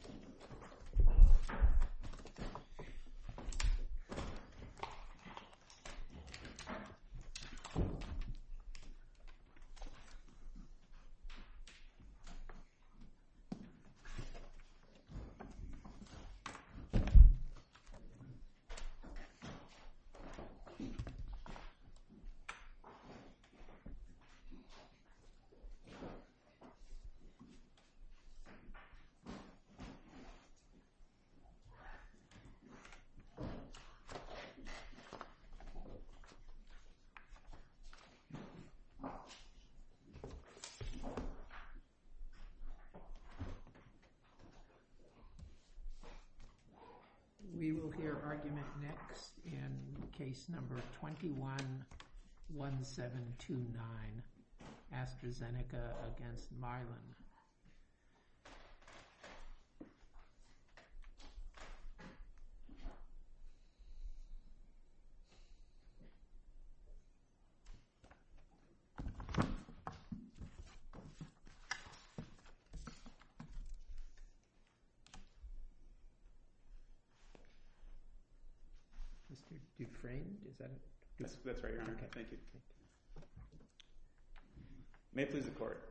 www.mylanpharmaceuticals.com We will hear argument next in case number 211729, Astrazeneca against Mylan. Mr. Dufresne, is that it? That's right, Your Honor. Thank you. May it please the Court.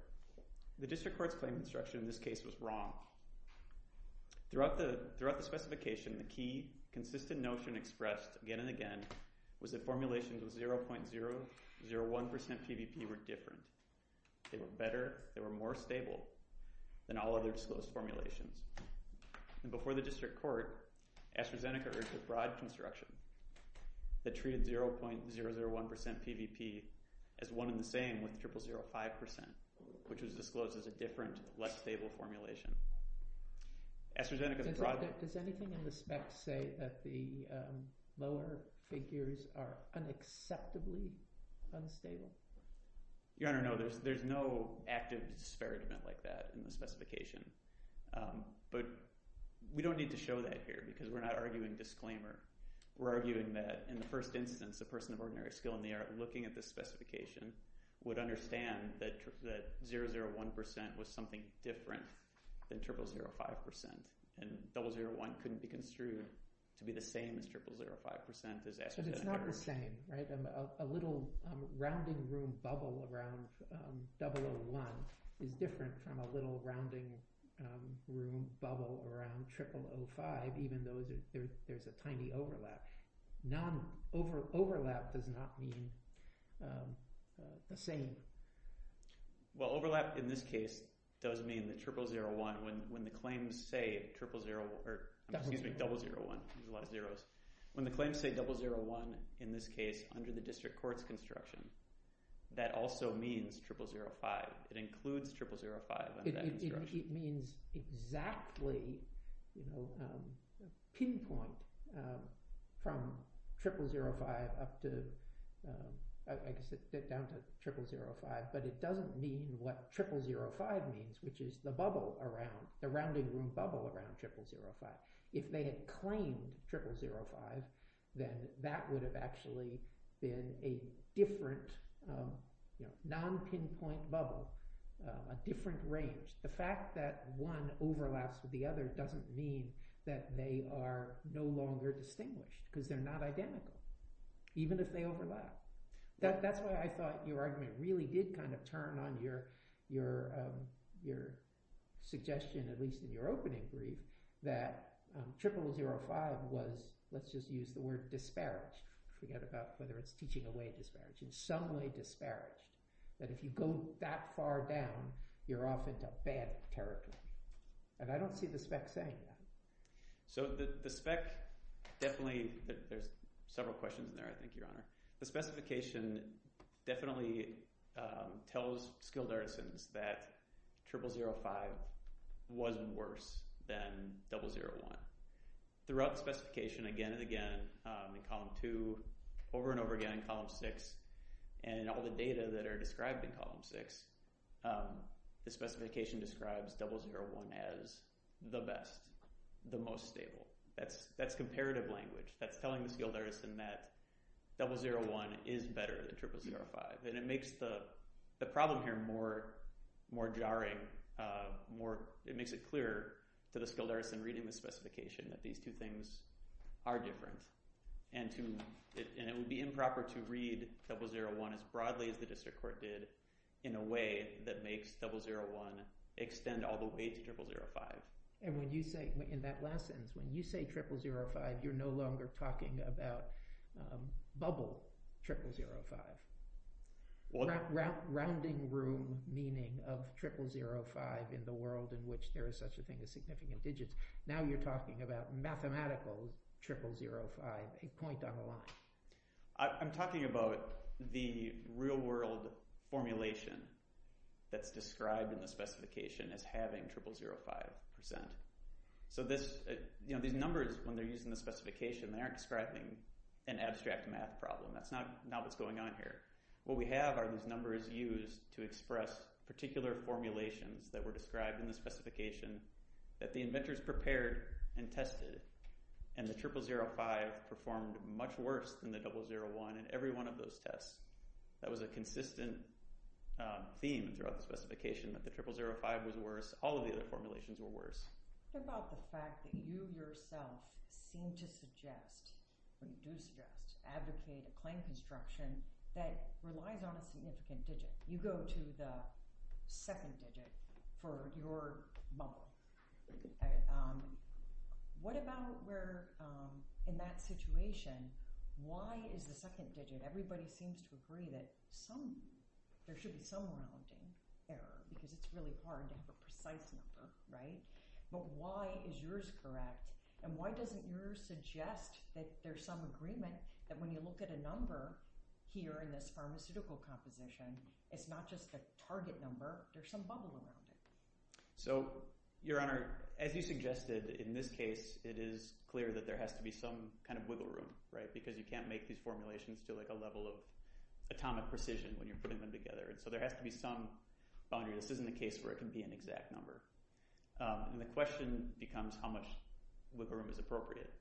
The District Court's claim instruction in this case was wrong. Throughout the specification, the key consistent notion expressed again and again was that formulations of 0.001% PVP were different. They were better, they were more stable than all other disclosed formulations. And before the District Court, Astrazeneca urged a broad construction that treated 0.001% PVP as one and the same with 0005%, which was disclosed as a different, less stable formulation. Does anything in the spec say that the lower figures are unacceptably unstable? Your Honor, no. There's no active disparagement like that in the specification. But we don't need to show that here because we're not arguing disclaimer. We're arguing that in the first instance, the person of ordinary skill in the art looking at this specification would understand that 001% was something different than 0005%. And 001 couldn't be construed to be the same as 0005% as Astrazeneca. But it's not the same, right? A little rounding room bubble around 001 is different from a little rounding room bubble around 0005% even though there's a tiny overlap. Overlap does not mean the same. Well, overlap in this case does mean that 0001, in the district court's construction, that also means 0005. It includes 0005 under that construction. It means exactly pinpoint from 0005 up to, I guess it's down to 0005, but it doesn't mean what 0005 means, which is the bubble around, the rounding room bubble around 0005. If they had claimed 0005, then that would have actually been a different non-pinpoint bubble, a different range. The fact that one overlaps with the other doesn't mean that they are no longer distinguished because they're not identical even if they overlap. That's why I thought your argument really did kind of turn on your suggestion, at least in your opening brief, that 0005 was, let's just use the word disparage to get about whether it's teaching away disparage, in some way disparage, that if you go that far down, you're off into bad territory. I don't see the spec saying that. The spec definitely – there's several questions in there, I think, Your Honor. The specification definitely tells skilled artisans that 0005 was worse than 001. Throughout the specification, again and again, in Column 2, over and over again in Column 6, and in all the data that are described in Column 6, the specification describes 001 as the best, the most stable. That's comparative language. That's telling the skilled artisan that 001 is better than 0005. It makes the problem here more jarring. It makes it clearer to the skilled artisan reading the specification that these two things are different. It would be improper to read 001 as broadly as the district court did in a way that makes 001 extend all the way to 0005. When you say – in that last sentence, when you say 0005, you're no longer talking about bubble 0005. Rounding room meaning of 0005 in the world in which there is such a thing as significant digits. Now you're talking about mathematical 0005, a point on the line. I'm talking about the real-world formulation that's described in the specification as having 0005%. These numbers, when they're used in the specification, they aren't describing an abstract math problem. That's not what's going on here. What we have are these numbers used to express particular formulations that were described in the specification that the inventors prepared and tested, and the 0005 performed much worse than the 001 in every one of those tests. That was a consistent theme throughout the specification, that the 0005 was worse. All of the other formulations were worse. What about the fact that you yourself seem to suggest, and you do suggest, advocate a claim construction that relies on a significant digit? You go to the second digit for your bubble. What about where in that situation, why is the second digit – everybody seems to agree that there should be some amount of error because it's really hard to have a precise number, right? But why is yours correct, and why doesn't yours suggest that there's some agreement that when you look at a number here in this pharmaceutical composition, it's not just a target number, there's some bubble around it? Your Honor, as you suggested, in this case it is clear that there has to be some kind of wiggle room because you can't make these formulations to a level of atomic precision when you're putting them together. So there has to be some boundary. This isn't a case where it can be an exact number. The question becomes how much wiggle room is appropriate.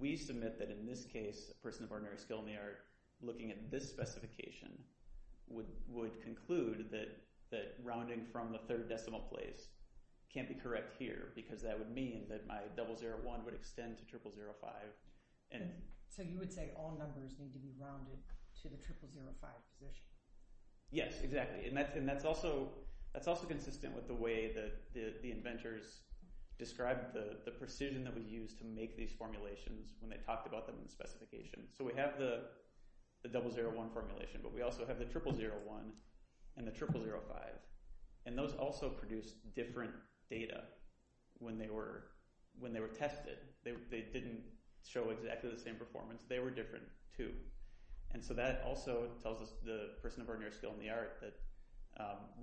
We submit that in this case, a person of ordinary skill in the art, looking at this specification, would conclude that rounding from the third decimal place can't be correct here because that would mean that my 001 would extend to 0005. So you would say all numbers need to be rounded to the 0005 position? Yes, exactly, and that's also consistent with the way the inventors described the precision that we used to make these formulations when they talked about them in the specification. So we have the 001 formulation, but we also have the 0001 and the 0005, and those also produced different data when they were tested. They didn't show exactly the same performance. They were different, too. So that also tells us the person of ordinary skill in the art that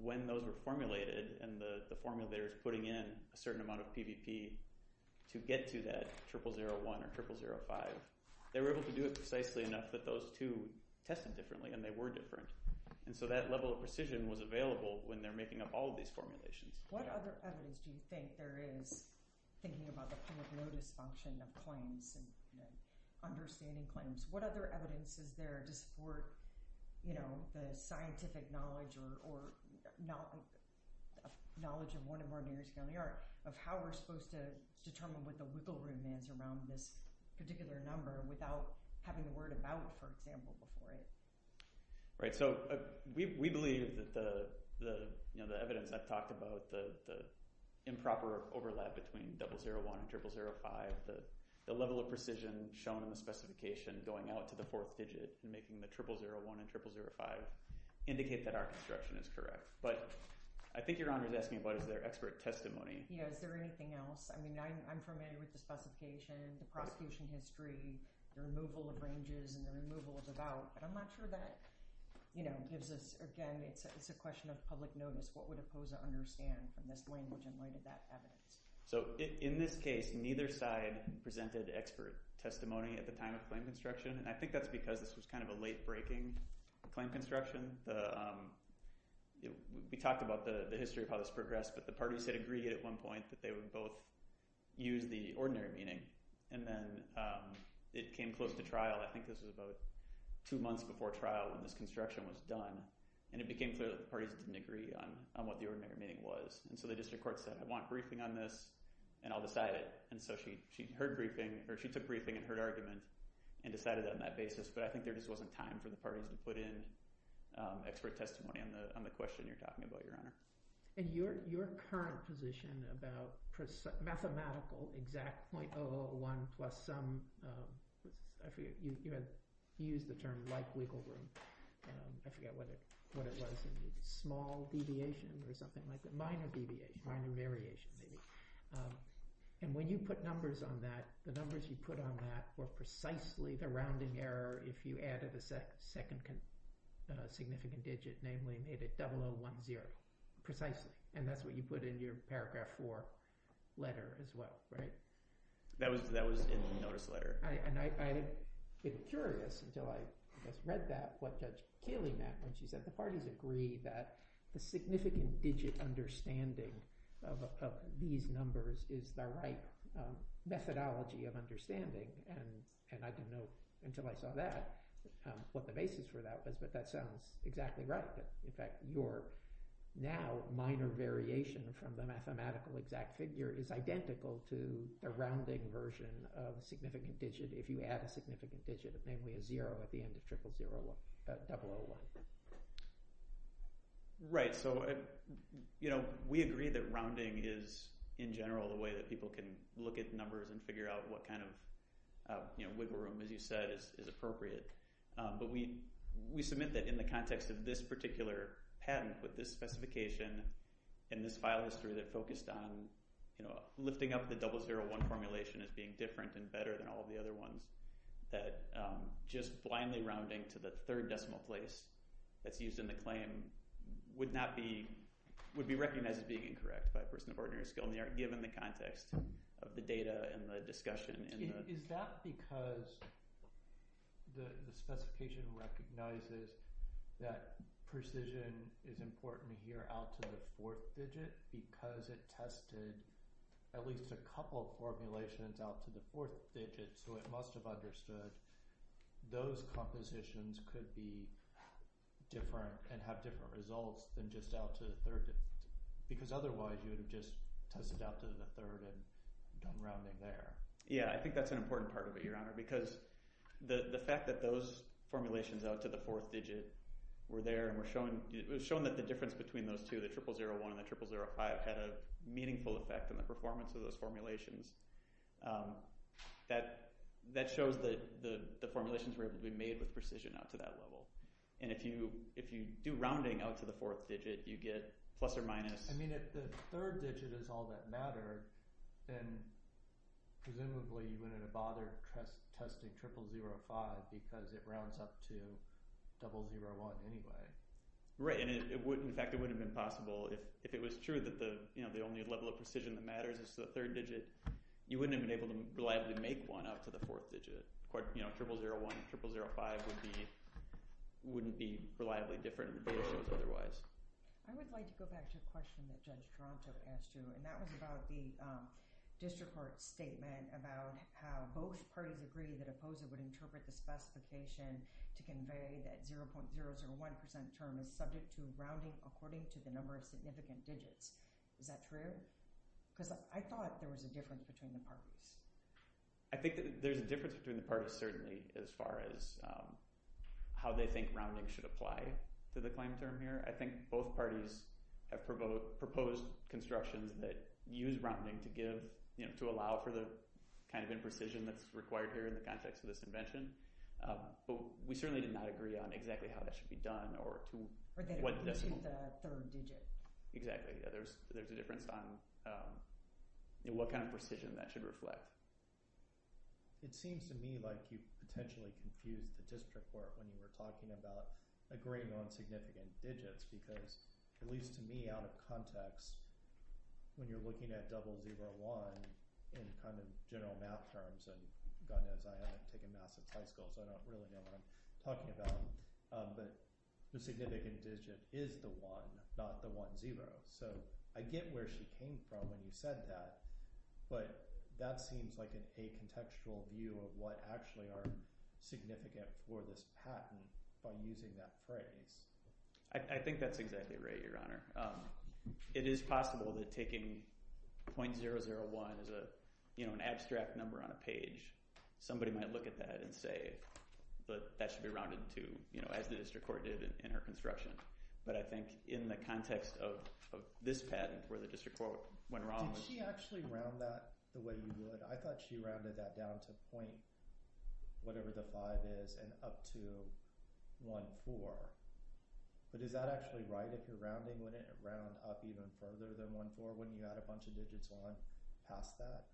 when those were formulated and the formulator is putting in a certain amount of PVP to get to that 0001 or 0005, they were able to do it precisely enough that those two tested differently and they were different. So that level of precision was available when they're making up all of these formulations. What other evidence do you think there is, thinking about the public notice function of claims and understanding claims, what other evidence is there to support the scientific knowledge or knowledge of one and one meters down the arc of how we're supposed to determine what the wiggle room is around this particular number without having a word about it, for example, before it? Right. So we believe that the evidence I've talked about, the improper overlap between 001 and 0005, the level of precision shown in the specification going out to the fourth digit and making the 0001 and 0005 indicate that our construction is correct. But I think Your Honor is asking about is there expert testimony. Yeah, is there anything else? I mean, I'm familiar with the specification, the prosecution history, the removal of ranges and the removal of about, but I'm not sure that gives us, again, it's a question of public notice. What would it pose to understand from this language and where did that evidence? So in this case, neither side presented expert testimony at the time of claim construction, and I think that's because this was kind of a late breaking claim construction. We talked about the history of how this progressed, but the parties had agreed at one point that they would both use the ordinary meaning, and then it came close to trial. I think this was about two months before trial when this construction was done, and it became clear that the parties didn't agree on what the ordinary meaning was. And so the district court said, I want briefing on this, and I'll decide it. And so she heard briefing, or she took briefing and heard argument and decided on that basis, but I think there just wasn't time for the parties to put in expert testimony on the question you're talking about, Your Honor. And your current position about mathematical exact .001 plus some, I forget, you used the term like wiggle room, I forget what it was, small deviation or something like that, minor deviation maybe. And when you put numbers on that, the numbers you put on that were precisely the rounding error if you added a second significant digit, namely made it 0010, precisely. And that's what you put in your paragraph four letter as well, right? That was in the notice letter. And I'd been curious until I read that what Judge Keeley meant when she said the parties agreed that the significant digit understanding of these numbers is the right methodology of understanding. And I didn't know until I saw that what the basis for that was, but that sounds exactly right. In fact, your now minor variation from the mathematical exact figure is identical to the rounding version of significant digit if you add a significant digit, namely a zero at the end of 0001. Right, so we agree that rounding is, in general, the way that people can look at numbers and figure out what kind of wiggle room, as you said, is appropriate. But we submit that in the context of this particular patent with this specification and this file history that focused on lifting up the 001 formulation as being different and better than all of the other ones, that just blindly rounding to the third decimal place that's used in the claim would be recognized as being incorrect by a person of ordinary skill given the context of the data and the discussion. Is that because the specification recognizes that precision is important here out to the fourth digit because it tested at least a couple of formulations out to the fourth digit, so it must have understood those compositions could be different and have different results than just out to the third digit, because otherwise you would have just tested out to the third and done rounding there. Yeah, I think that's an important part of it, Your Honor, because the fact that those formulations out to the fourth digit were there and were showing that the difference between those two, the 0001 and the 0005, had a meaningful effect on the performance of those formulations, that shows that the formulations were able to be made with precision out to that level. And if you do rounding out to the fourth digit, you get plus or minus. I mean, if the third digit is all that mattered, then presumably you wouldn't have bothered testing 0005 because it rounds up to 001 anyway. Right, and in fact it wouldn't have been possible if it was true that the only level of precision that matters is the third digit. You wouldn't have been able to reliably make one out to the fourth digit. Of course, 0001 and 0005 wouldn't be reliably different in the data shows otherwise. I would like to go back to a question that Judge Toronto asked you, and that was about the district court statement about how both parties agreed that a poser would interpret the specification to convey that 0.001% term is subject to rounding according to the number of significant digits. Is that true? Because I thought there was a difference between the parties. I think there's a difference between the parties, certainly, as far as how they think rounding should apply to the claim term here. I think both parties have proposed constructions that use rounding to allow for the kind of imprecision that's required here in the context of this invention, but we certainly did not agree on exactly how that should be done or to what decimal point. Exactly, there's a difference on what kind of precision that should reflect. It seems to me like you've potentially confused the district court when you were talking about agreeing on significant digits because, at least to me, out of context, when you're looking at 001 in kind of general math terms, and God knows I haven't taken math since high school, so I don't really know what I'm talking about, but the significant digit is the one, not the one zero. So I get where she came from when you said that, but that seems like a contextual view of what actually are significant for this patent by using that phrase. I think that's exactly right, Your Honor. It is possible that taking .001 as an abstract number on a page, somebody might look at that and say that that should be rounded to, as the district court did in her construction, but I think in the context of this patent where the district court went wrong. Did she actually round that the way we would? I thought she rounded that down to .005 and up to .014, but is that actually right? If you're rounding, wouldn't it round up even further than .014? Wouldn't you add a bunch of digits on past that?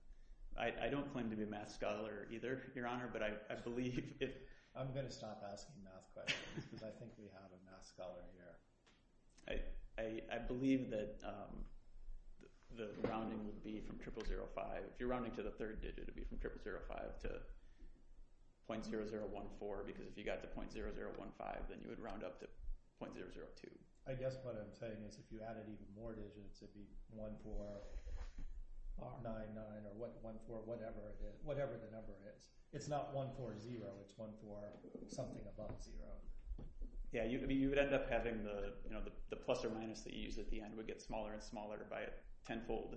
I don't claim to be a math scholar either, Your Honor, but I believe if— I'm going to stop asking math questions because I think we have a math scholar here. I believe that the rounding would be from .0005. If you're rounding to the third digit, it would be from .0005 to .0014 because if you got to .0015, then you would round up to .002. I guess what I'm saying is if you added even more digits, it would be 1499 or whatever the number is. It's not 140. It's 14 something above zero. Yeah, you would end up having the plus or minus that you use at the end and it would get smaller and smaller by tenfold.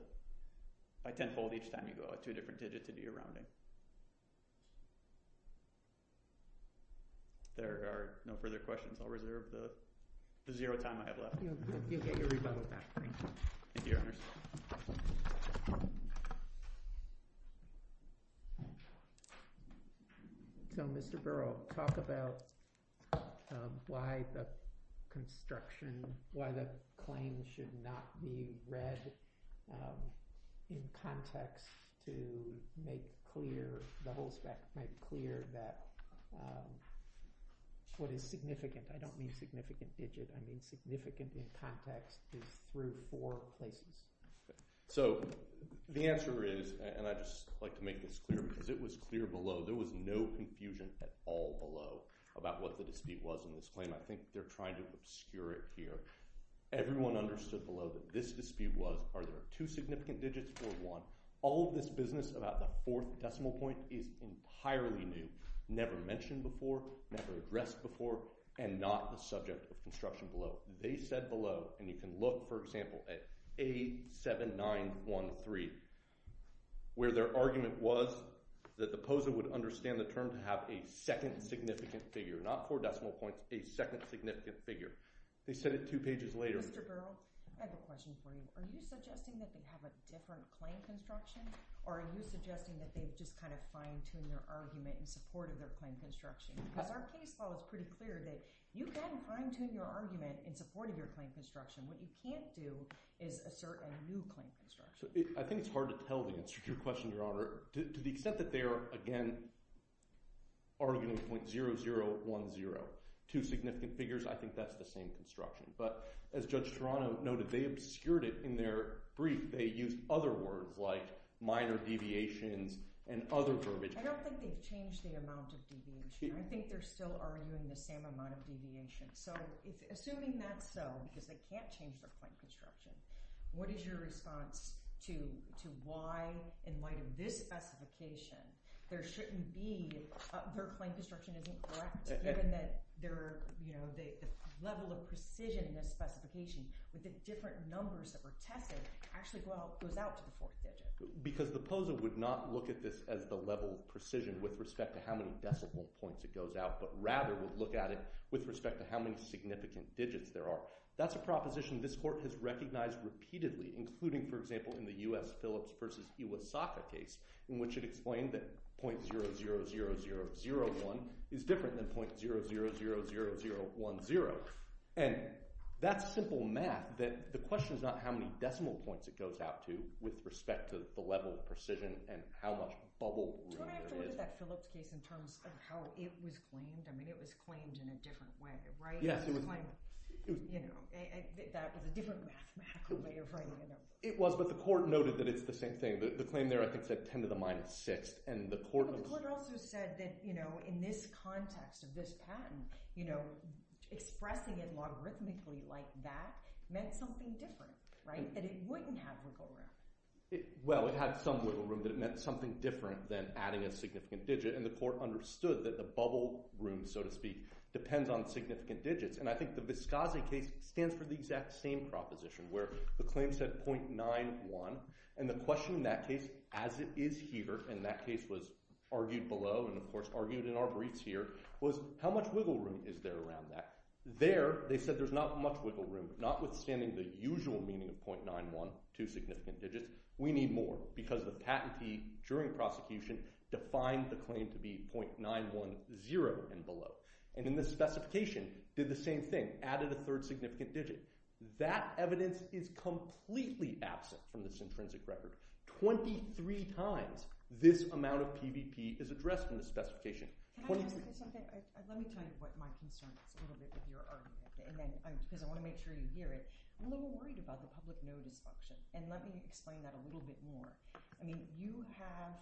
By tenfold each time you go to a different digit to do your rounding. There are no further questions. I'll reserve the zero time I have left. You'll get your rebuttal back. Thank you, Your Honors. Thank you. So, Mr. Burrow, talk about why the construction— why the claim should not be read in context to make clear— the whole spec—make clear that what is significant— I don't mean significant digit. I mean significant in context is through four places. So the answer is—and I'd just like to make this clear because it was clear below. There was no confusion at all below about what the dispute was in this claim. I think they're trying to obscure it here. Everyone understood below that this dispute was are there two significant digits or one? All of this business about the fourth decimal point is entirely new, never mentioned before, never addressed before, and not the subject of construction below. They said below—and you can look, for example, at A7913, where their argument was that the POSA would understand the term to have a second significant figure, not four decimal points, a second significant figure. They said it two pages later. Mr. Burrow, I have a question for you. Are you suggesting that they have a different claim construction or are you suggesting that they've just kind of fine-tuned their argument in support of their claim construction? Because our case law is pretty clear that you can fine-tune your argument in support of your claim construction. What you can't do is assert a new claim construction. I think it's hard to tell the answer to your question, Your Honor. To the extent that they are, again, arguing .0010, two significant figures, I think that's the same construction. But as Judge Toronto noted, they obscured it in their brief. They used other words like minor deviations and other verbatim. I don't think they've changed the amount of deviation. I think they're still arguing the same amount of deviation. So assuming that's so because they can't change their claim construction, what is your response to why, in light of this specification, there shouldn't be—their claim construction isn't correct given that the level of precision in this specification with the different numbers that were tested actually goes out to the fourth digit? Because the POSA would not look at this as the level of precision with respect to how many decimal points it goes out, but rather would look at it with respect to how many significant digits there are. That's a proposition this Court has recognized repeatedly, including, for example, in the U.S. Phillips v. Iwasaka case, in which it explained that .000001 is different than .0000010. And that's simple math. The question is not how many decimal points it goes out to with respect to the level of precision and how much bubble room there is. Don't I have to look at that Phillips case in terms of how it was claimed? I mean, it was claimed in a different way, right? Yes. That was a different mathematical way of writing it up. It was, but the Court noted that it's the same thing. The claim there, I think, said 10 to the minus 6, and the Court— It said that, you know, in this context of this patent, you know, expressing it logarithmically like that meant something different, right? That it wouldn't have wiggle room. Well, it had some wiggle room, but it meant something different than adding a significant digit, and the Court understood that the bubble room, so to speak, depends on significant digits. And I think the Vizcazi case stands for the exact same proposition, where the claim said .000001, and the question in that case, as it is here, and that case was argued below and, of course, argued in our briefs here, was how much wiggle room is there around that? There, they said there's not much wiggle room, but notwithstanding the usual meaning of .912 significant digits, we need more because the patentee, during prosecution, defined the claim to be .910 and below. And in the specification, did the same thing, added a third significant digit. That evidence is completely absent from this intrinsic record. Twenty-three times this amount of PVP is addressed in the specification. Let me tell you what my concern is, a little bit of your argument, because I want to make sure you hear it. I'm a little worried about the public notice function, and let me explain that a little bit more. I mean, you have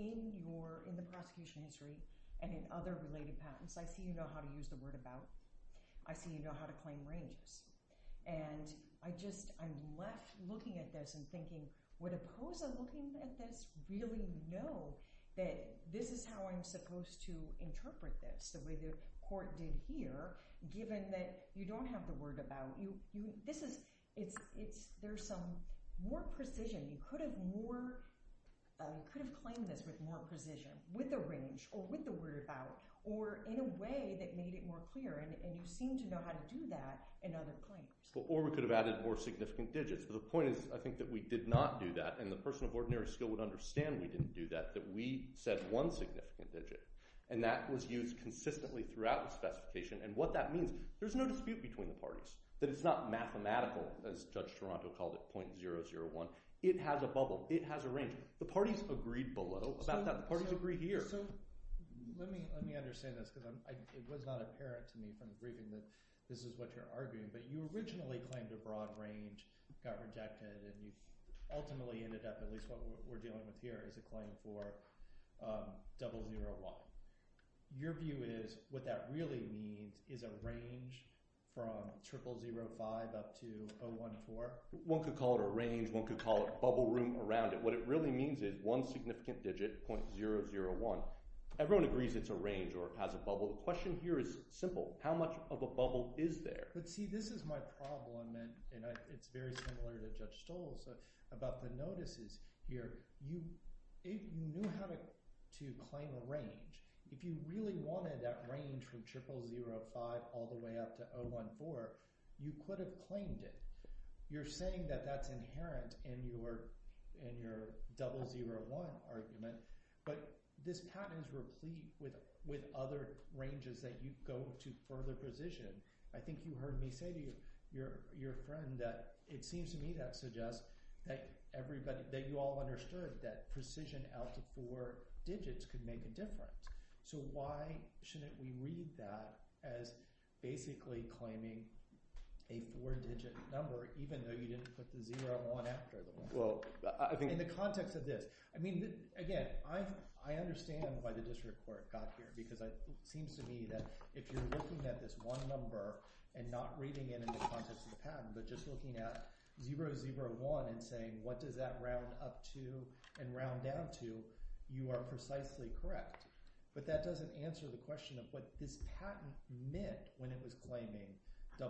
in the prosecution history and in other related patents, I see you know how to use the word about. I see you know how to claim rames. And I just, I'm left looking at this and thinking, would a POSA looking at this really know that this is how I'm supposed to interpret this, the way the court did here, given that you don't have the word about? This is, it's, there's some more precision. You could have more, could have claimed this with more precision, with a range, or with the word about, or in a way that made it more clear, and you seem to know how to do that in other claims. Or we could have added more significant digits. The point is, I think that we did not do that, and the person of ordinary skill would understand we didn't do that, that we said one significant digit, and that was used consistently throughout the specification, and what that means, there's no dispute between the parties, that it's not mathematical, as Judge Toronto called it, .001. It has a bubble. It has a range. The parties agreed below about that. The parties agree here. So, let me understand this, because it was not apparent to me from the briefing that this is what you're arguing, but you originally claimed a broad range, got rejected, and you ultimately ended up, at least what we're dealing with here, is a claim for .001. Your view is, what that really means is a range from .005 up to .014? One could call it a range. One could call it bubble room around it. What it really means is one significant digit, .001. Everyone agrees it's a range or has a bubble. The question here is simple. How much of a bubble is there? But see, this is my problem, and it's very similar to Judge Stoll's, about the notices here. You have to claim a range. If you really wanted that range from .005 all the way up to .014, you could have claimed it. You're saying that that's inherent in your .001 argument, but this pattern is replete with other ranges that you go to further precision. I think you heard me say to your friend that it seems to me that suggests that you all understood that precision out to four digits could make a difference. So why shouldn't we read that as basically claiming a four-digit number even though you didn't put the .001 after the one? In the context of this. Again, I understand why the district court got here because it seems to me that if you're looking at this one number and not reading it in the context of the patent, but just looking at .001 and saying what does that round up to and round down to, you are precisely correct. But that doesn't answer the question of what this patent meant when it was claiming .001.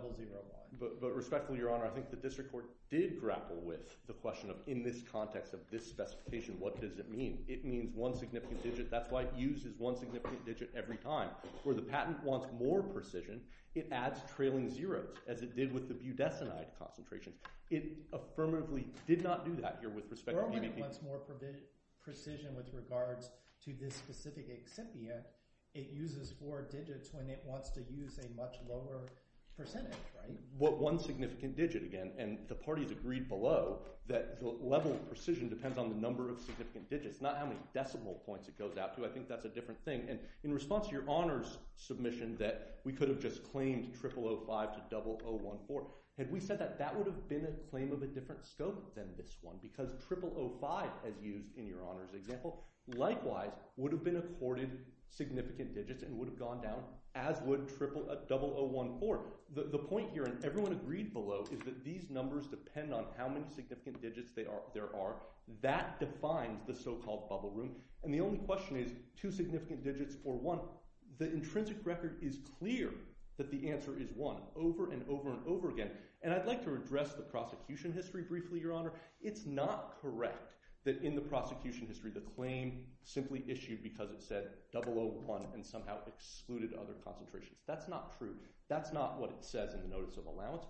But respectfully, Your Honor, I think the district court did grapple with the question of in this context of this specification, what does it mean? It means one significant digit. That's why it uses one significant digit every time. Where the patent wants more precision, it adds trailing zeros as it did with the budesonide concentration. It affirmatively did not do that here with respect to PBP. It wants more precision with regards to this specific excipient. It uses four digits when it wants to use a much lower percentage, right? One significant digit again, and the parties agreed below that the level of precision depends on the number of significant digits, not how many decimal points it goes out to. I think that's a different thing. In response to Your Honor's submission that we could have just claimed to 0014. Had we said that, that would have been a claim of a different scope than this one because 0005, as used in Your Honor's example, likewise would have been accorded significant digits and would have gone down as would 0014. The point here, and everyone agreed below, is that these numbers depend on how many significant digits there are. That defines the so-called bubble room, and the only question is two significant digits for one. The intrinsic record is clear that the answer is one, over and over and over again. I'd like to address the prosecution history briefly, Your Honor. It's not correct that in the prosecution history the claim simply issued because it said 001 and somehow excluded other concentrations. That's not true. That's not what it says in the Notice of Allowance.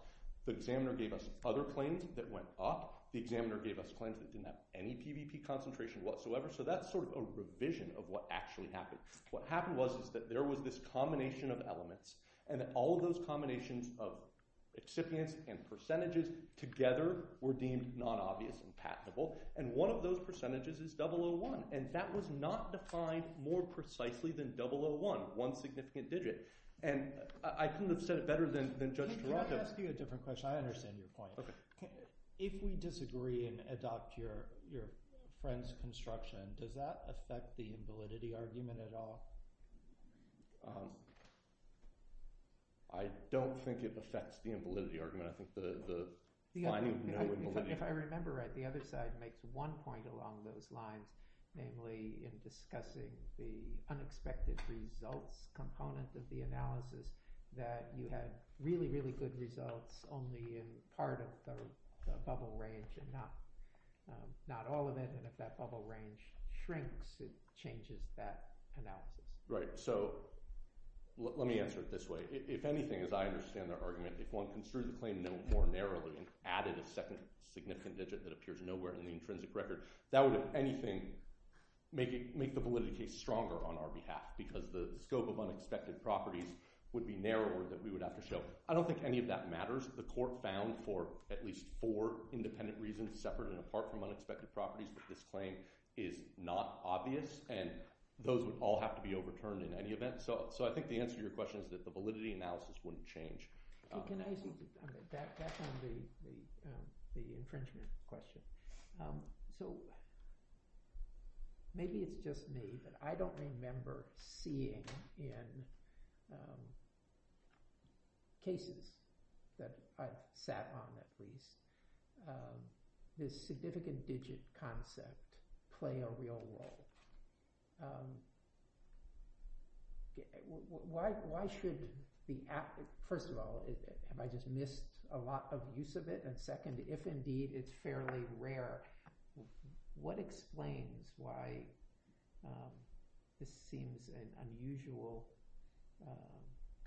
The examiner gave us other claims that went up. The examiner gave us claims that didn't have any PBP concentration whatsoever, so that's sort of a revision of what actually happened. What happened was that there was this combination of elements and all of those combinations of excipients and percentages together were deemed non-obvious and patentable, and one of those percentages is 001, and that was not defined more precisely than 001, one significant digit. I couldn't have said it better than Judge Taranto. Let me ask you a different question. I understand your point. If we disagree and adopt your friend's construction, does that affect the invalidity argument at all? I don't think it affects the invalidity argument. I think the line of no invalidity. If I remember right, the other side makes one point along those lines, namely in discussing the unexpected results component of the analysis that you had really, really good results only in part of the bubble range and not all of it, and if that bubble range shrinks, it changes that analysis. Right. So let me answer it this way. If anything, as I understand their argument, if one construed the claim no more narrowly and added a second significant digit that appears nowhere in the intrinsic record, that would, if anything, make the validity case stronger on our behalf because the scope of unexpected properties would be narrower that we would have to show. I don't think any of that matters. The court found for at least four independent reasons separate and apart from unexpected properties that this claim is not obvious, and those would all have to be overturned in any event. So I think the answer to your question is that the validity analysis wouldn't change. Can I ask you back on the infringement question? So maybe it's just me, but I don't remember seeing in cases that I've sat on at least this significant digit concept play a real role. Why should the – first of all, have I just missed a lot of use of it? And second, if indeed it's fairly rare, what explains why this seems an unusual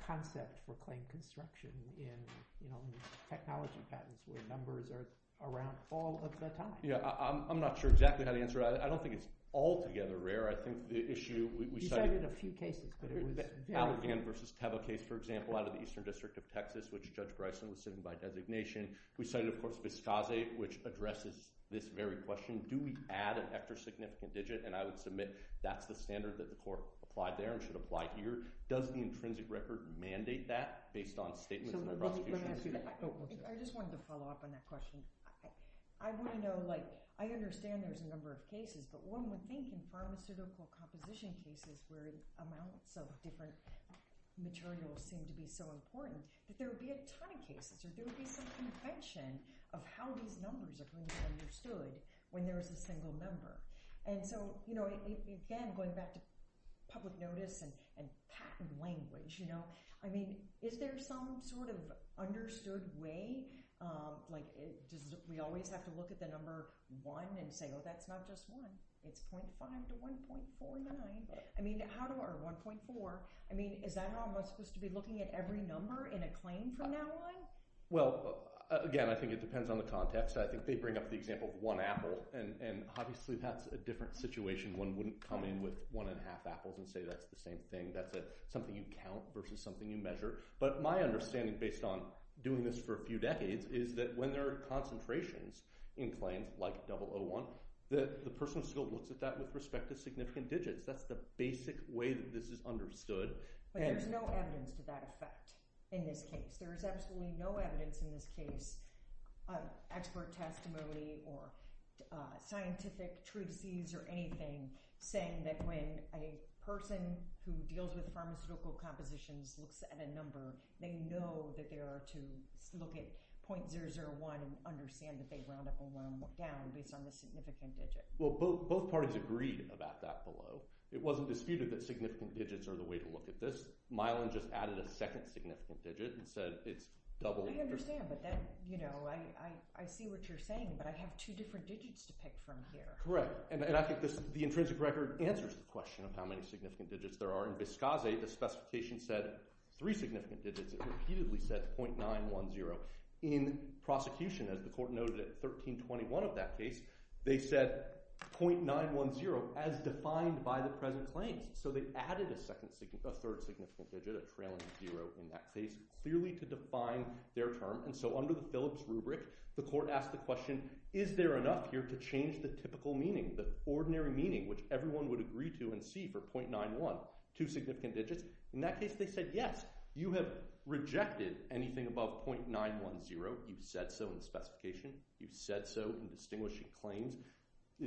concept for claim construction in technology patents where numbers are around all of the time? I'm not sure exactly how to answer that. I don't think it's altogether rare. I think the issue – You cited a few cases, but it was – Allergan versus Teva case, for example, out of the Eastern District of Texas, which Judge Bryson was sitting by designation. We cited, of course, Vizcase, which addresses this very question. Do we add an extra significant digit? And I would submit that's the standard that the court applied there and should apply here. Does the intrinsic record mandate that based on statements in the prosecution? I just wanted to follow up on that question. I want to know – I understand there's a number of cases, but one would think in pharmaceutical composition cases where amounts of different materials seem to be so important, that there would be a ton of cases or there would be some convention of how these numbers are going to be understood when there is a single member. And so, again, going back to public notice and patent language, is there some sort of understood way? Do we always have to look at the number one and say, oh, that's not just one. It's 0.5 to 1.49. Or 1.4. Is that how I'm supposed to be looking at every number in a claim from now on? Well, again, I think it depends on the context. I think they bring up the example of one apple, and obviously that's a different situation. One wouldn't come in with one and a half apples and say that's the same thing. That's something you count versus something you measure. But my understanding based on doing this for a few decades is that when there are concentrations in claims like 001, the person still looks at that with respect to significant digits. That's the basic way that this is understood. But there's no evidence to that effect in this case. There is absolutely no evidence in this case of expert testimony or scientific truthsees or anything saying that when a person who deals with pharmaceutical compositions looks at a number, they know that they are to look at 0.001 and understand that they round up and round down based on the significant digit. Well, both parties agreed about that below. It wasn't disputed that significant digits are the way to look at this. Milan just added a second significant digit and said it's double. I understand, but then I see what you're saying, but I have two different digits to pick from here. Correct. And I think the intrinsic record answers the question of how many significant digits there are. In Vizcase, the specification said three significant digits. It repeatedly said 0.910. In prosecution, as the court noted at 1321 of that case, they said 0.910 as defined by the present claims. So they added a third significant digit, a trailing zero in that case, clearly to define their term. And so under the Phillips rubric, the court asked the question, is there enough here to change the typical meaning, the ordinary meaning which everyone would agree to and see for 0.91, two significant digits? In that case, they said yes. You have rejected anything above 0.910. You've said so in the specification. You've said so in distinguishing claims,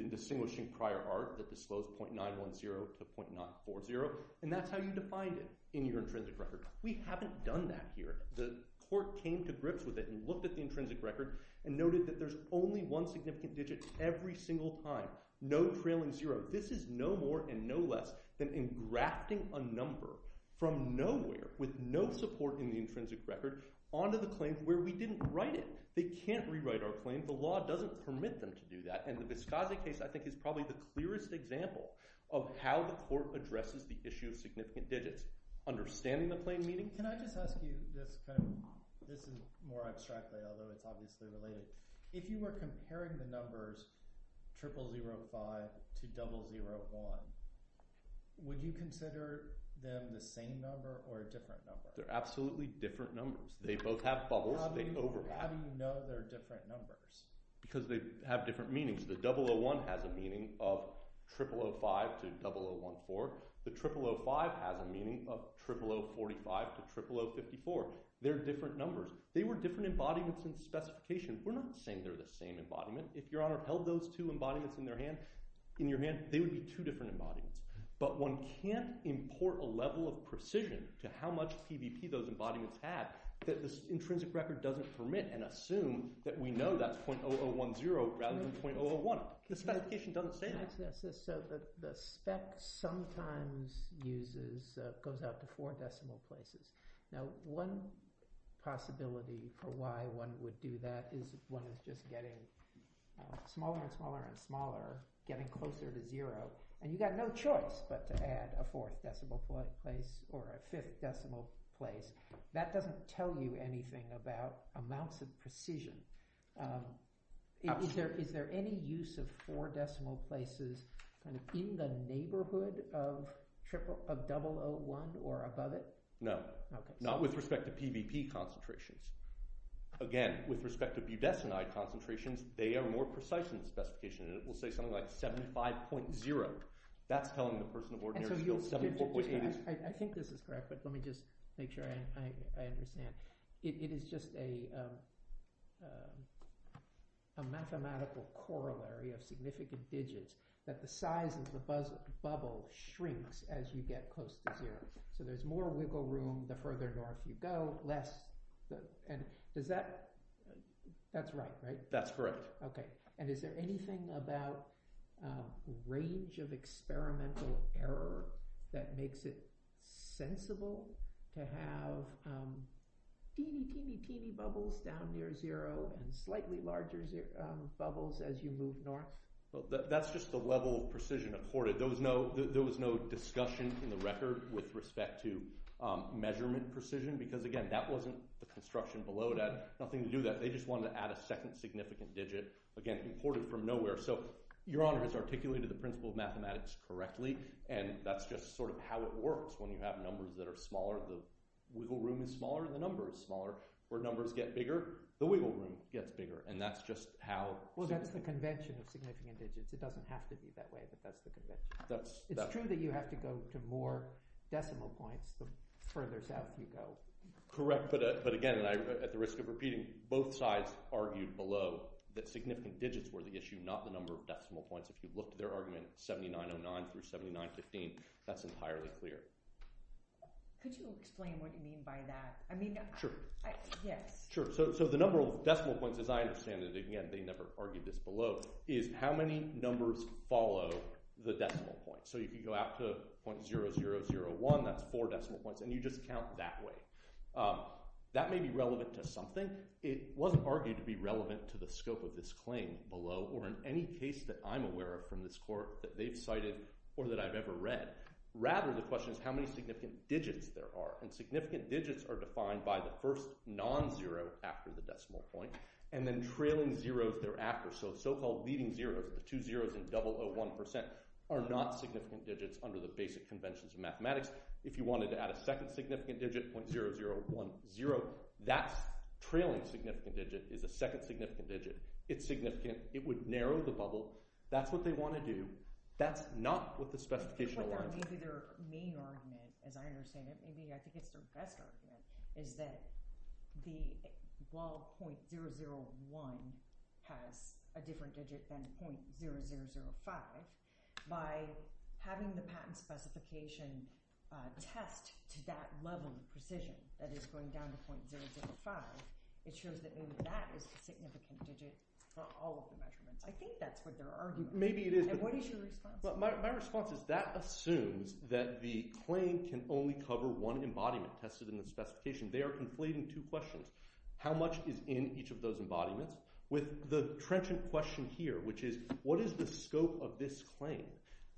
distinguishing prior art that disclosed 0.910 to 0.940. And that's how you defined it in your intrinsic record. We haven't done that here. The court came to grips with it and looked at the intrinsic record and noted that there's only one significant digit every single time, no trailing zero. This is no more and no less than engrafting a number from nowhere with no support in the intrinsic record onto the claim where we didn't write it. So they can't rewrite our claim. The law doesn't permit them to do that. And the Vizcazi case, I think, is probably the clearest example of how the court addresses the issue of significant digits, understanding the claim meaning. Can I just ask you this kind of – this is more abstractly, although it's obviously related. If you were comparing the numbers 0005 to 001, would you consider them the same number or a different number? They're absolutely different numbers. They both have bubbles. They overlap. How do you know they're different numbers? Because they have different meanings. The 001 has a meaning of 0005 to 0014. The 0005 has a meaning of 00045 to 00054. They're different numbers. They were different embodiments in specification. We're not saying they're the same embodiment. If Your Honor held those two embodiments in your hand, they would be two different embodiments. But one can't import a level of precision to how much PVP those embodiments had. This intrinsic record doesn't permit and assume that we know that's .0010 rather than .001. The specification doesn't say that. So the spec sometimes uses – goes out to four decimal places. Now one possibility for why one would do that is one is just getting smaller and smaller and smaller, getting closer to zero, and you've got no choice but to add a fourth decimal place or a fifth decimal place. That doesn't tell you anything about amounts of precision. Is there any use of four decimal places in the neighborhood of 001 or above it? No. Not with respect to PVP concentrations. Again, with respect to budesonide concentrations, they are more precise in the specification, and it will say something like 75.0. That's telling the person of ordinary skill 74.82. I think this is correct, but let me just make sure I understand. It is just a mathematical corollary of significant digits that the size of the bubble shrinks as you get close to zero. So there's more wiggle room the further north you go, less – and is that – that's right, right? That's correct. Okay, and is there anything about range of experimental error that makes it sensible to have teeny, teeny, teeny bubbles down near zero and slightly larger bubbles as you move north? That's just the level of precision accorded. There was no discussion in the record with respect to measurement precision because, again, that wasn't the construction below that, nothing to do with that. They just wanted to add a second significant digit, again, imported from nowhere. So Your Honor has articulated the principle of mathematics correctly, and that's just sort of how it works. When you have numbers that are smaller, the wiggle room is smaller and the number is smaller. Where numbers get bigger, the wiggle room gets bigger, and that's just how – Well, that's the convention of significant digits. It doesn't have to be that way, but that's the convention. It's true that you have to go to more decimal points the further south you go. Correct, but again, at the risk of repeating, both sides argued below that significant digits were the issue, not the number of decimal points. If you look at their argument, 7909 through 7915, that's entirely clear. Could you explain what you mean by that? Sure. Yes. Sure. So the number of decimal points, as I understand it, again, they never argued this below, is how many numbers follow the decimal point. So if you go out to .0001, that's four decimal points, and you just count that way. That may be relevant to something. It wasn't argued to be relevant to the scope of this claim below or in any case that I'm aware of from this court that they've cited or that I've ever read. Rather, the question is how many significant digits there are, and significant digits are defined by the first non-zero after the decimal point and then trailing zeros thereafter. So the so-called leading zero, the two zeros in .001% are not significant digits under the basic conventions of mathematics. If you wanted to add a second significant digit, .0010, that trailing significant digit is a second significant digit. It's significant. It would narrow the bubble. That's what they want to do. That's not what the specification allows. Maybe their main argument, as I understand it, maybe I think it's their best argument, is that while .001 has a different digit than .0005, by having the patent specification test to that level of precision that is going down to .005, it shows that maybe that is a significant digit for all of the measurements. I think that's what their argument is. And what is your response? My response is that assumes that the claim can only cover one embodiment tested in the specification. They are conflating two questions. How much is in each of those embodiments with the trenchant question here, which is what is the scope of this claim?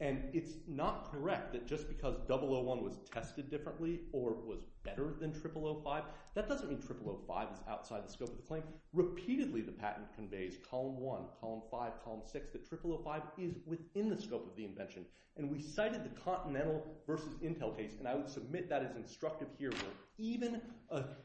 And it's not correct that just because .001 was tested differently or was better than .0005, that doesn't mean .0005 is outside the scope of the claim. Repeatedly the patent conveys, column 1, column 5, column 6, that .0005 is within the scope of the invention. And we cited the Continental versus Intel case, and I would submit that as instructive here, where even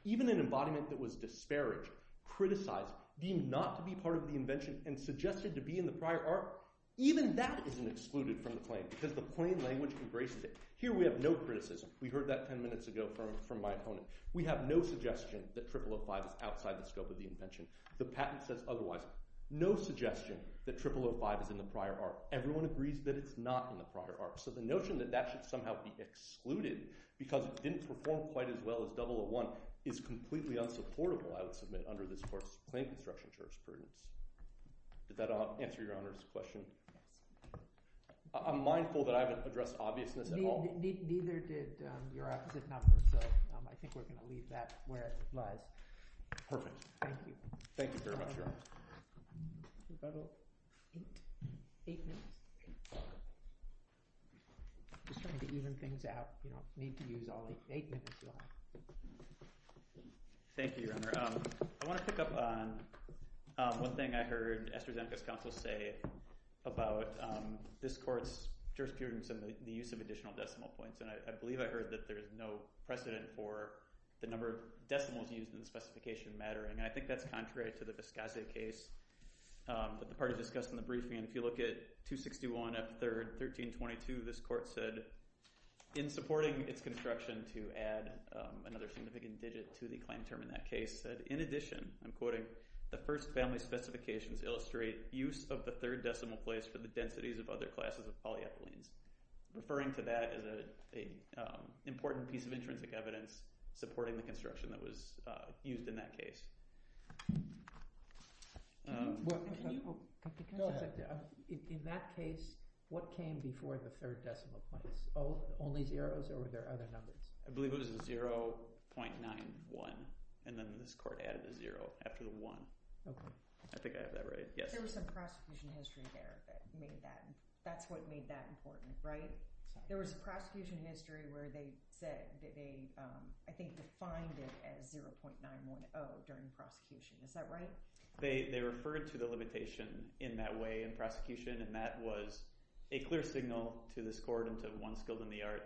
an embodiment that was disparaged, criticized, deemed not to be part of the invention and suggested to be in the prior arc, even that isn't excluded from the claim because the plain language embraces it. Here we have no criticism. We heard that 10 minutes ago from my opponent. We have no suggestion that .0005 is outside the scope of the invention. The patent says otherwise. No suggestion that .0005 is in the prior arc. Everyone agrees that it's not in the prior arc. So the notion that that should somehow be excluded because it didn't perform quite as well as .001 is completely unsupportable, I would submit, under this court's plain construction jurisprudence. Did that answer Your Honor's question? I'm mindful that I haven't addressed obviousness at all. Neither did your opposite comment, so I think we're going to leave that where it lies. Perfect. Thank you. Thank you very much, Your Honor. Is that all? Eight minutes. Just trying to even things out. You don't need to use all the eight minutes you have. Thank you, Your Honor. I want to pick up on one thing I heard Esther Zemka's counsel say about this court's jurisprudence and the use of additional decimal points. And I believe I heard that there is no precedent for the number of decimals used in the specification mattering. And I think that's contrary to the Vizcase case that the party discussed in the briefing. And if you look at 261 F. 3rd 1322, this court said in supporting its construction to add another significant digit to the claim term in that case, said, in addition, I'm quoting, the first family specifications illustrate use of the third decimal place for the densities of other classes of polyethylenes. Referring to that is an important piece of intrinsic evidence supporting the construction that was used in that case. In that case, what came before the third decimal place? Only zeros or were there other numbers? I believe it was a 0.91. And then this court added a zero after the one. I think I have that right. Yes. There was some prosecution history there that made that. That's what made that important, right? There was a prosecution history where they said that they, I think, defined it as 0.910 during the prosecution. Is that right? They referred to the limitation in that way in prosecution. And that was a clear signal to this court and to one skilled in the art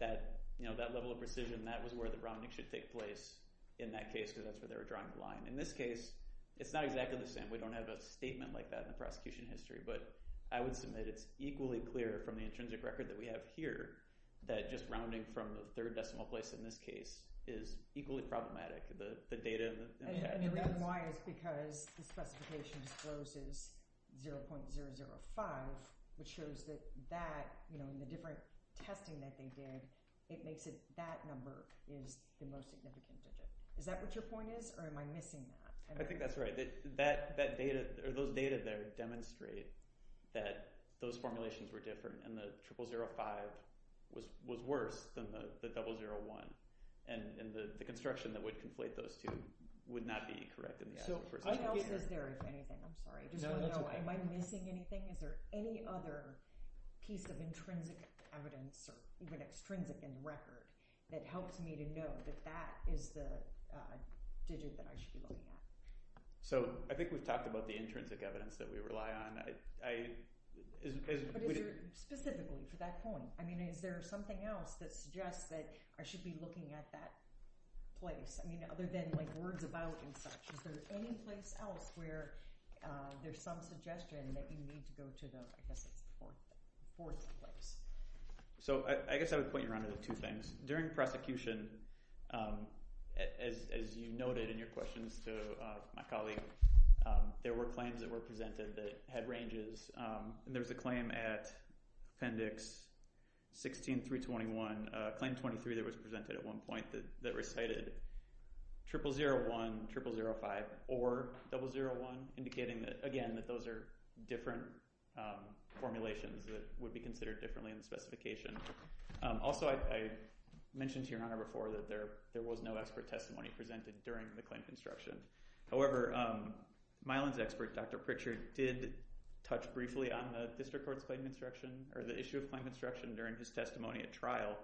that that level of precision, that was where the rounding should take place in that case because that's where they were drawing the line. In this case, it's not exactly the same. We don't have a statement like that in the prosecution history. But I would submit it's equally clear from the intrinsic record that we have here that just rounding from the third decimal place in this case is equally problematic, the data in the case. The reason why is because the specification discloses 0.005, which shows that in the different testing that they did, it makes it that number is the most significant digit. Is that what your point is, or am I missing that? I think that's right. Those data there demonstrate that those formulations were different and the 0.005 was worse than the 0.001. The construction that would conflate those two would not be correct. What else is there, if anything? Am I missing anything? Is there any other piece of intrinsic evidence, or even extrinsic in the record, that helps me to know that that is the digit that I should be looking at? I think we've talked about the intrinsic evidence that we rely on. Specifically for that point, is there something else that suggests that I should be looking at that place? Other than words about and such, is there any place else where there's some suggestion that you need to go to the fourth place? I guess I would point you around to the two things. During prosecution, as you noted in your questions to my colleague, there were claims that were presented that had ranges. There was a claim at Appendix 16 through 21, Claim 23 that was presented at one point, that recited 0001, 0005, or 001, indicating, again, that those are different formulations that would be considered differently in the specification. Also, I mentioned to Your Honor before that there was no expert testimony presented during the claim construction. However, Mylan's expert, Dr. Pritchard, did touch briefly on the District Court's claim construction or the issue of claim construction during his testimony at trial.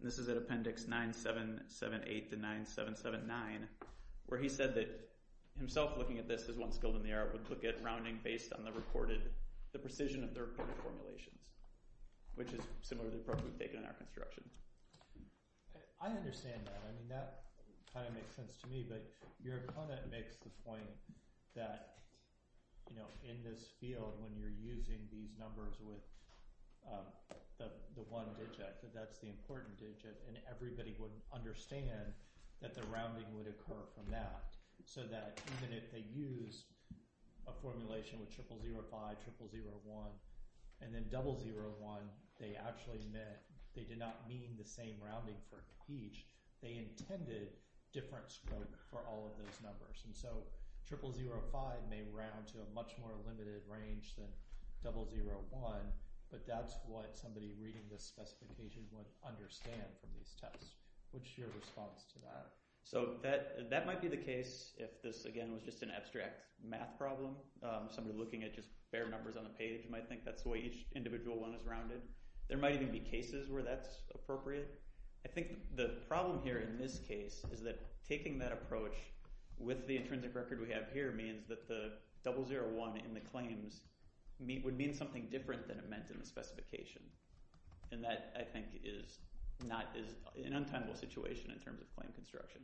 This is at Appendix 9778 to 9779, where he said that himself looking at this as one skilled in the art would look at rounding based on the precision of the reported formulations, which is similar to the approach we've taken in our construction. I understand that. That kind of makes sense to me. But Your Honor makes the point that, you know, in this field when you're using these numbers with the one digit, that that's the important digit, and everybody would understand that the rounding would occur from that. So that even if they use a formulation with 0005, 0001, and then 001, they actually meant, they did not mean the same rounding for each. They intended different scoring for all of those numbers. And so 0005 may round to a much more limited range than 001, but that's what somebody reading this specification would understand from this test. What's your response to that? So that might be the case if this, again, was just an abstract math problem. Somebody looking at just bare numbers on the page might think that's the way each individual one is rounded. There might even be cases where that's appropriate. I think the problem here in this case is that taking that approach with the intrinsic record we have here means that the 001 in the claims would mean something different than it meant in the specification. And that, I think, is an untimable situation in terms of claim construction.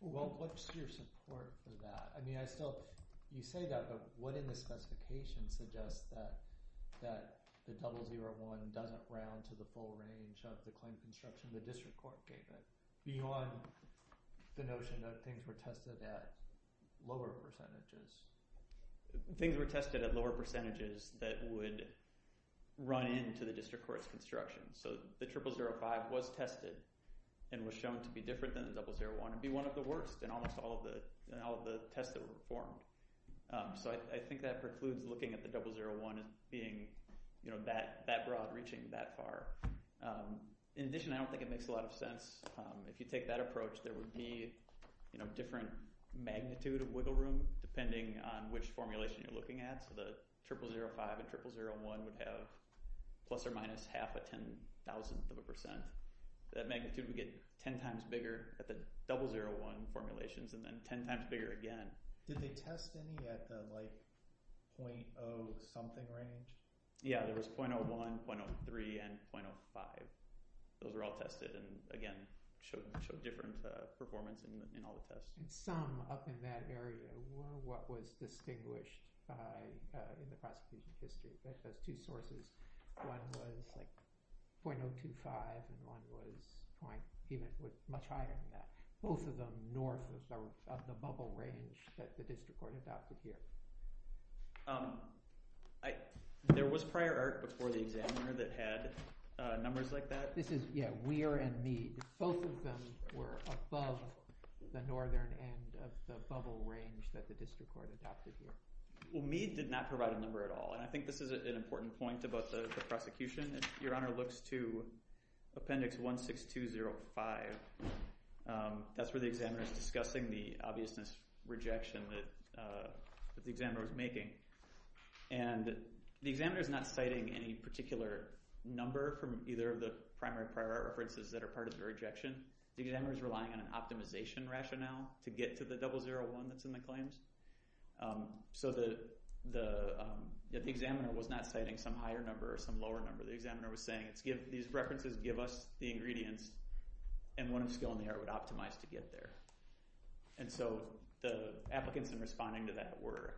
Well, what's your support for that? I mean, I still, you say that, but what in the specification suggests that the 001 doesn't round to the full range of the claim construction the district court gave it beyond the notion that things were tested at lower percentages? Things were tested at lower percentages that would run into the district court's construction. So the 0005 was tested and was shown to be different than the 001 and be one of the worst in almost all of the tests that were performed. So I think that precludes looking at the 001 being that broad, reaching that far. In addition, I don't think it makes a lot of sense. If you take that approach, there would be different magnitude of wiggle room depending on which formulation you're looking at. So the 0005 and 0001 would have plus or minus half a ten thousandth of a percent. That magnitude would get ten times bigger at the 001 formulations and then ten times bigger again. Did they test any at the 0.0 something range? Yeah, there was 0.01, 0.03, and 0.05. Those were all tested and again, showed different performance in all the tests. Some up in that area were what was distinguished in the past two sources. One was 0.025 and one was much higher than that. Both of them north of the bubble range that the district court adopted here. There was prior art before the examiner that had numbers like that? Yeah, Weir and Mead. Both of them were above the northern end of the bubble range that the district court adopted here. Well, Mead did not provide a number at all. I think this is an important point about the prosecution. Your Honor looks to appendix 16205. That's where the examiner is discussing the obviousness rejection that the examiner was making. The examiner is not citing any particular number from either of the primary prior art references that are part of the rejection. The examiner is relying on an optimization rationale to get to the 001 that's in the claims. The examiner was not citing some higher number or some lower number. The examiner was saying these references give us the ingredients and one of the skill in the art would optimize to get there. And so the applicants in responding to that were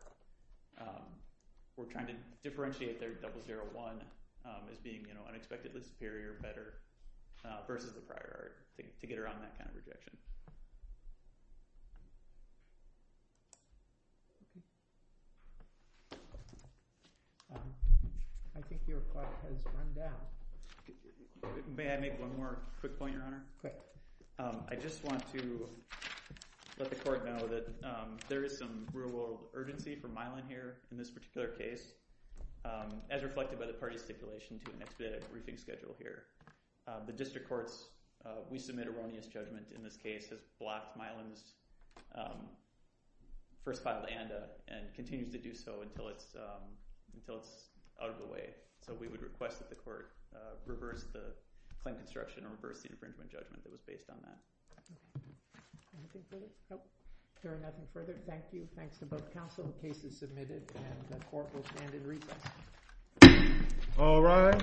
trying to differentiate their 001 as being unexpectedly superior, better, versus the prior art to get around that kind of rejection. Thank you. I think your clock has run down. May I make one more quick point, Your Honor? Quick. I just want to let the court know that there is some real-world urgency for Mylon here in this particular case, as reflected by the party stipulation to an expedited briefing schedule here. The district court's we-submit-erroneous judgment in this case has blocked Mylon's first file to ANDA and continues to do so until it's out of the way. So we would request that the court reverse the claim construction or reverse the infringement judgment that was based on that. Anything further? Nope. There are nothing further. Thank you. Thanks to both counsel. The case is submitted and the court will stand in recess. All rise.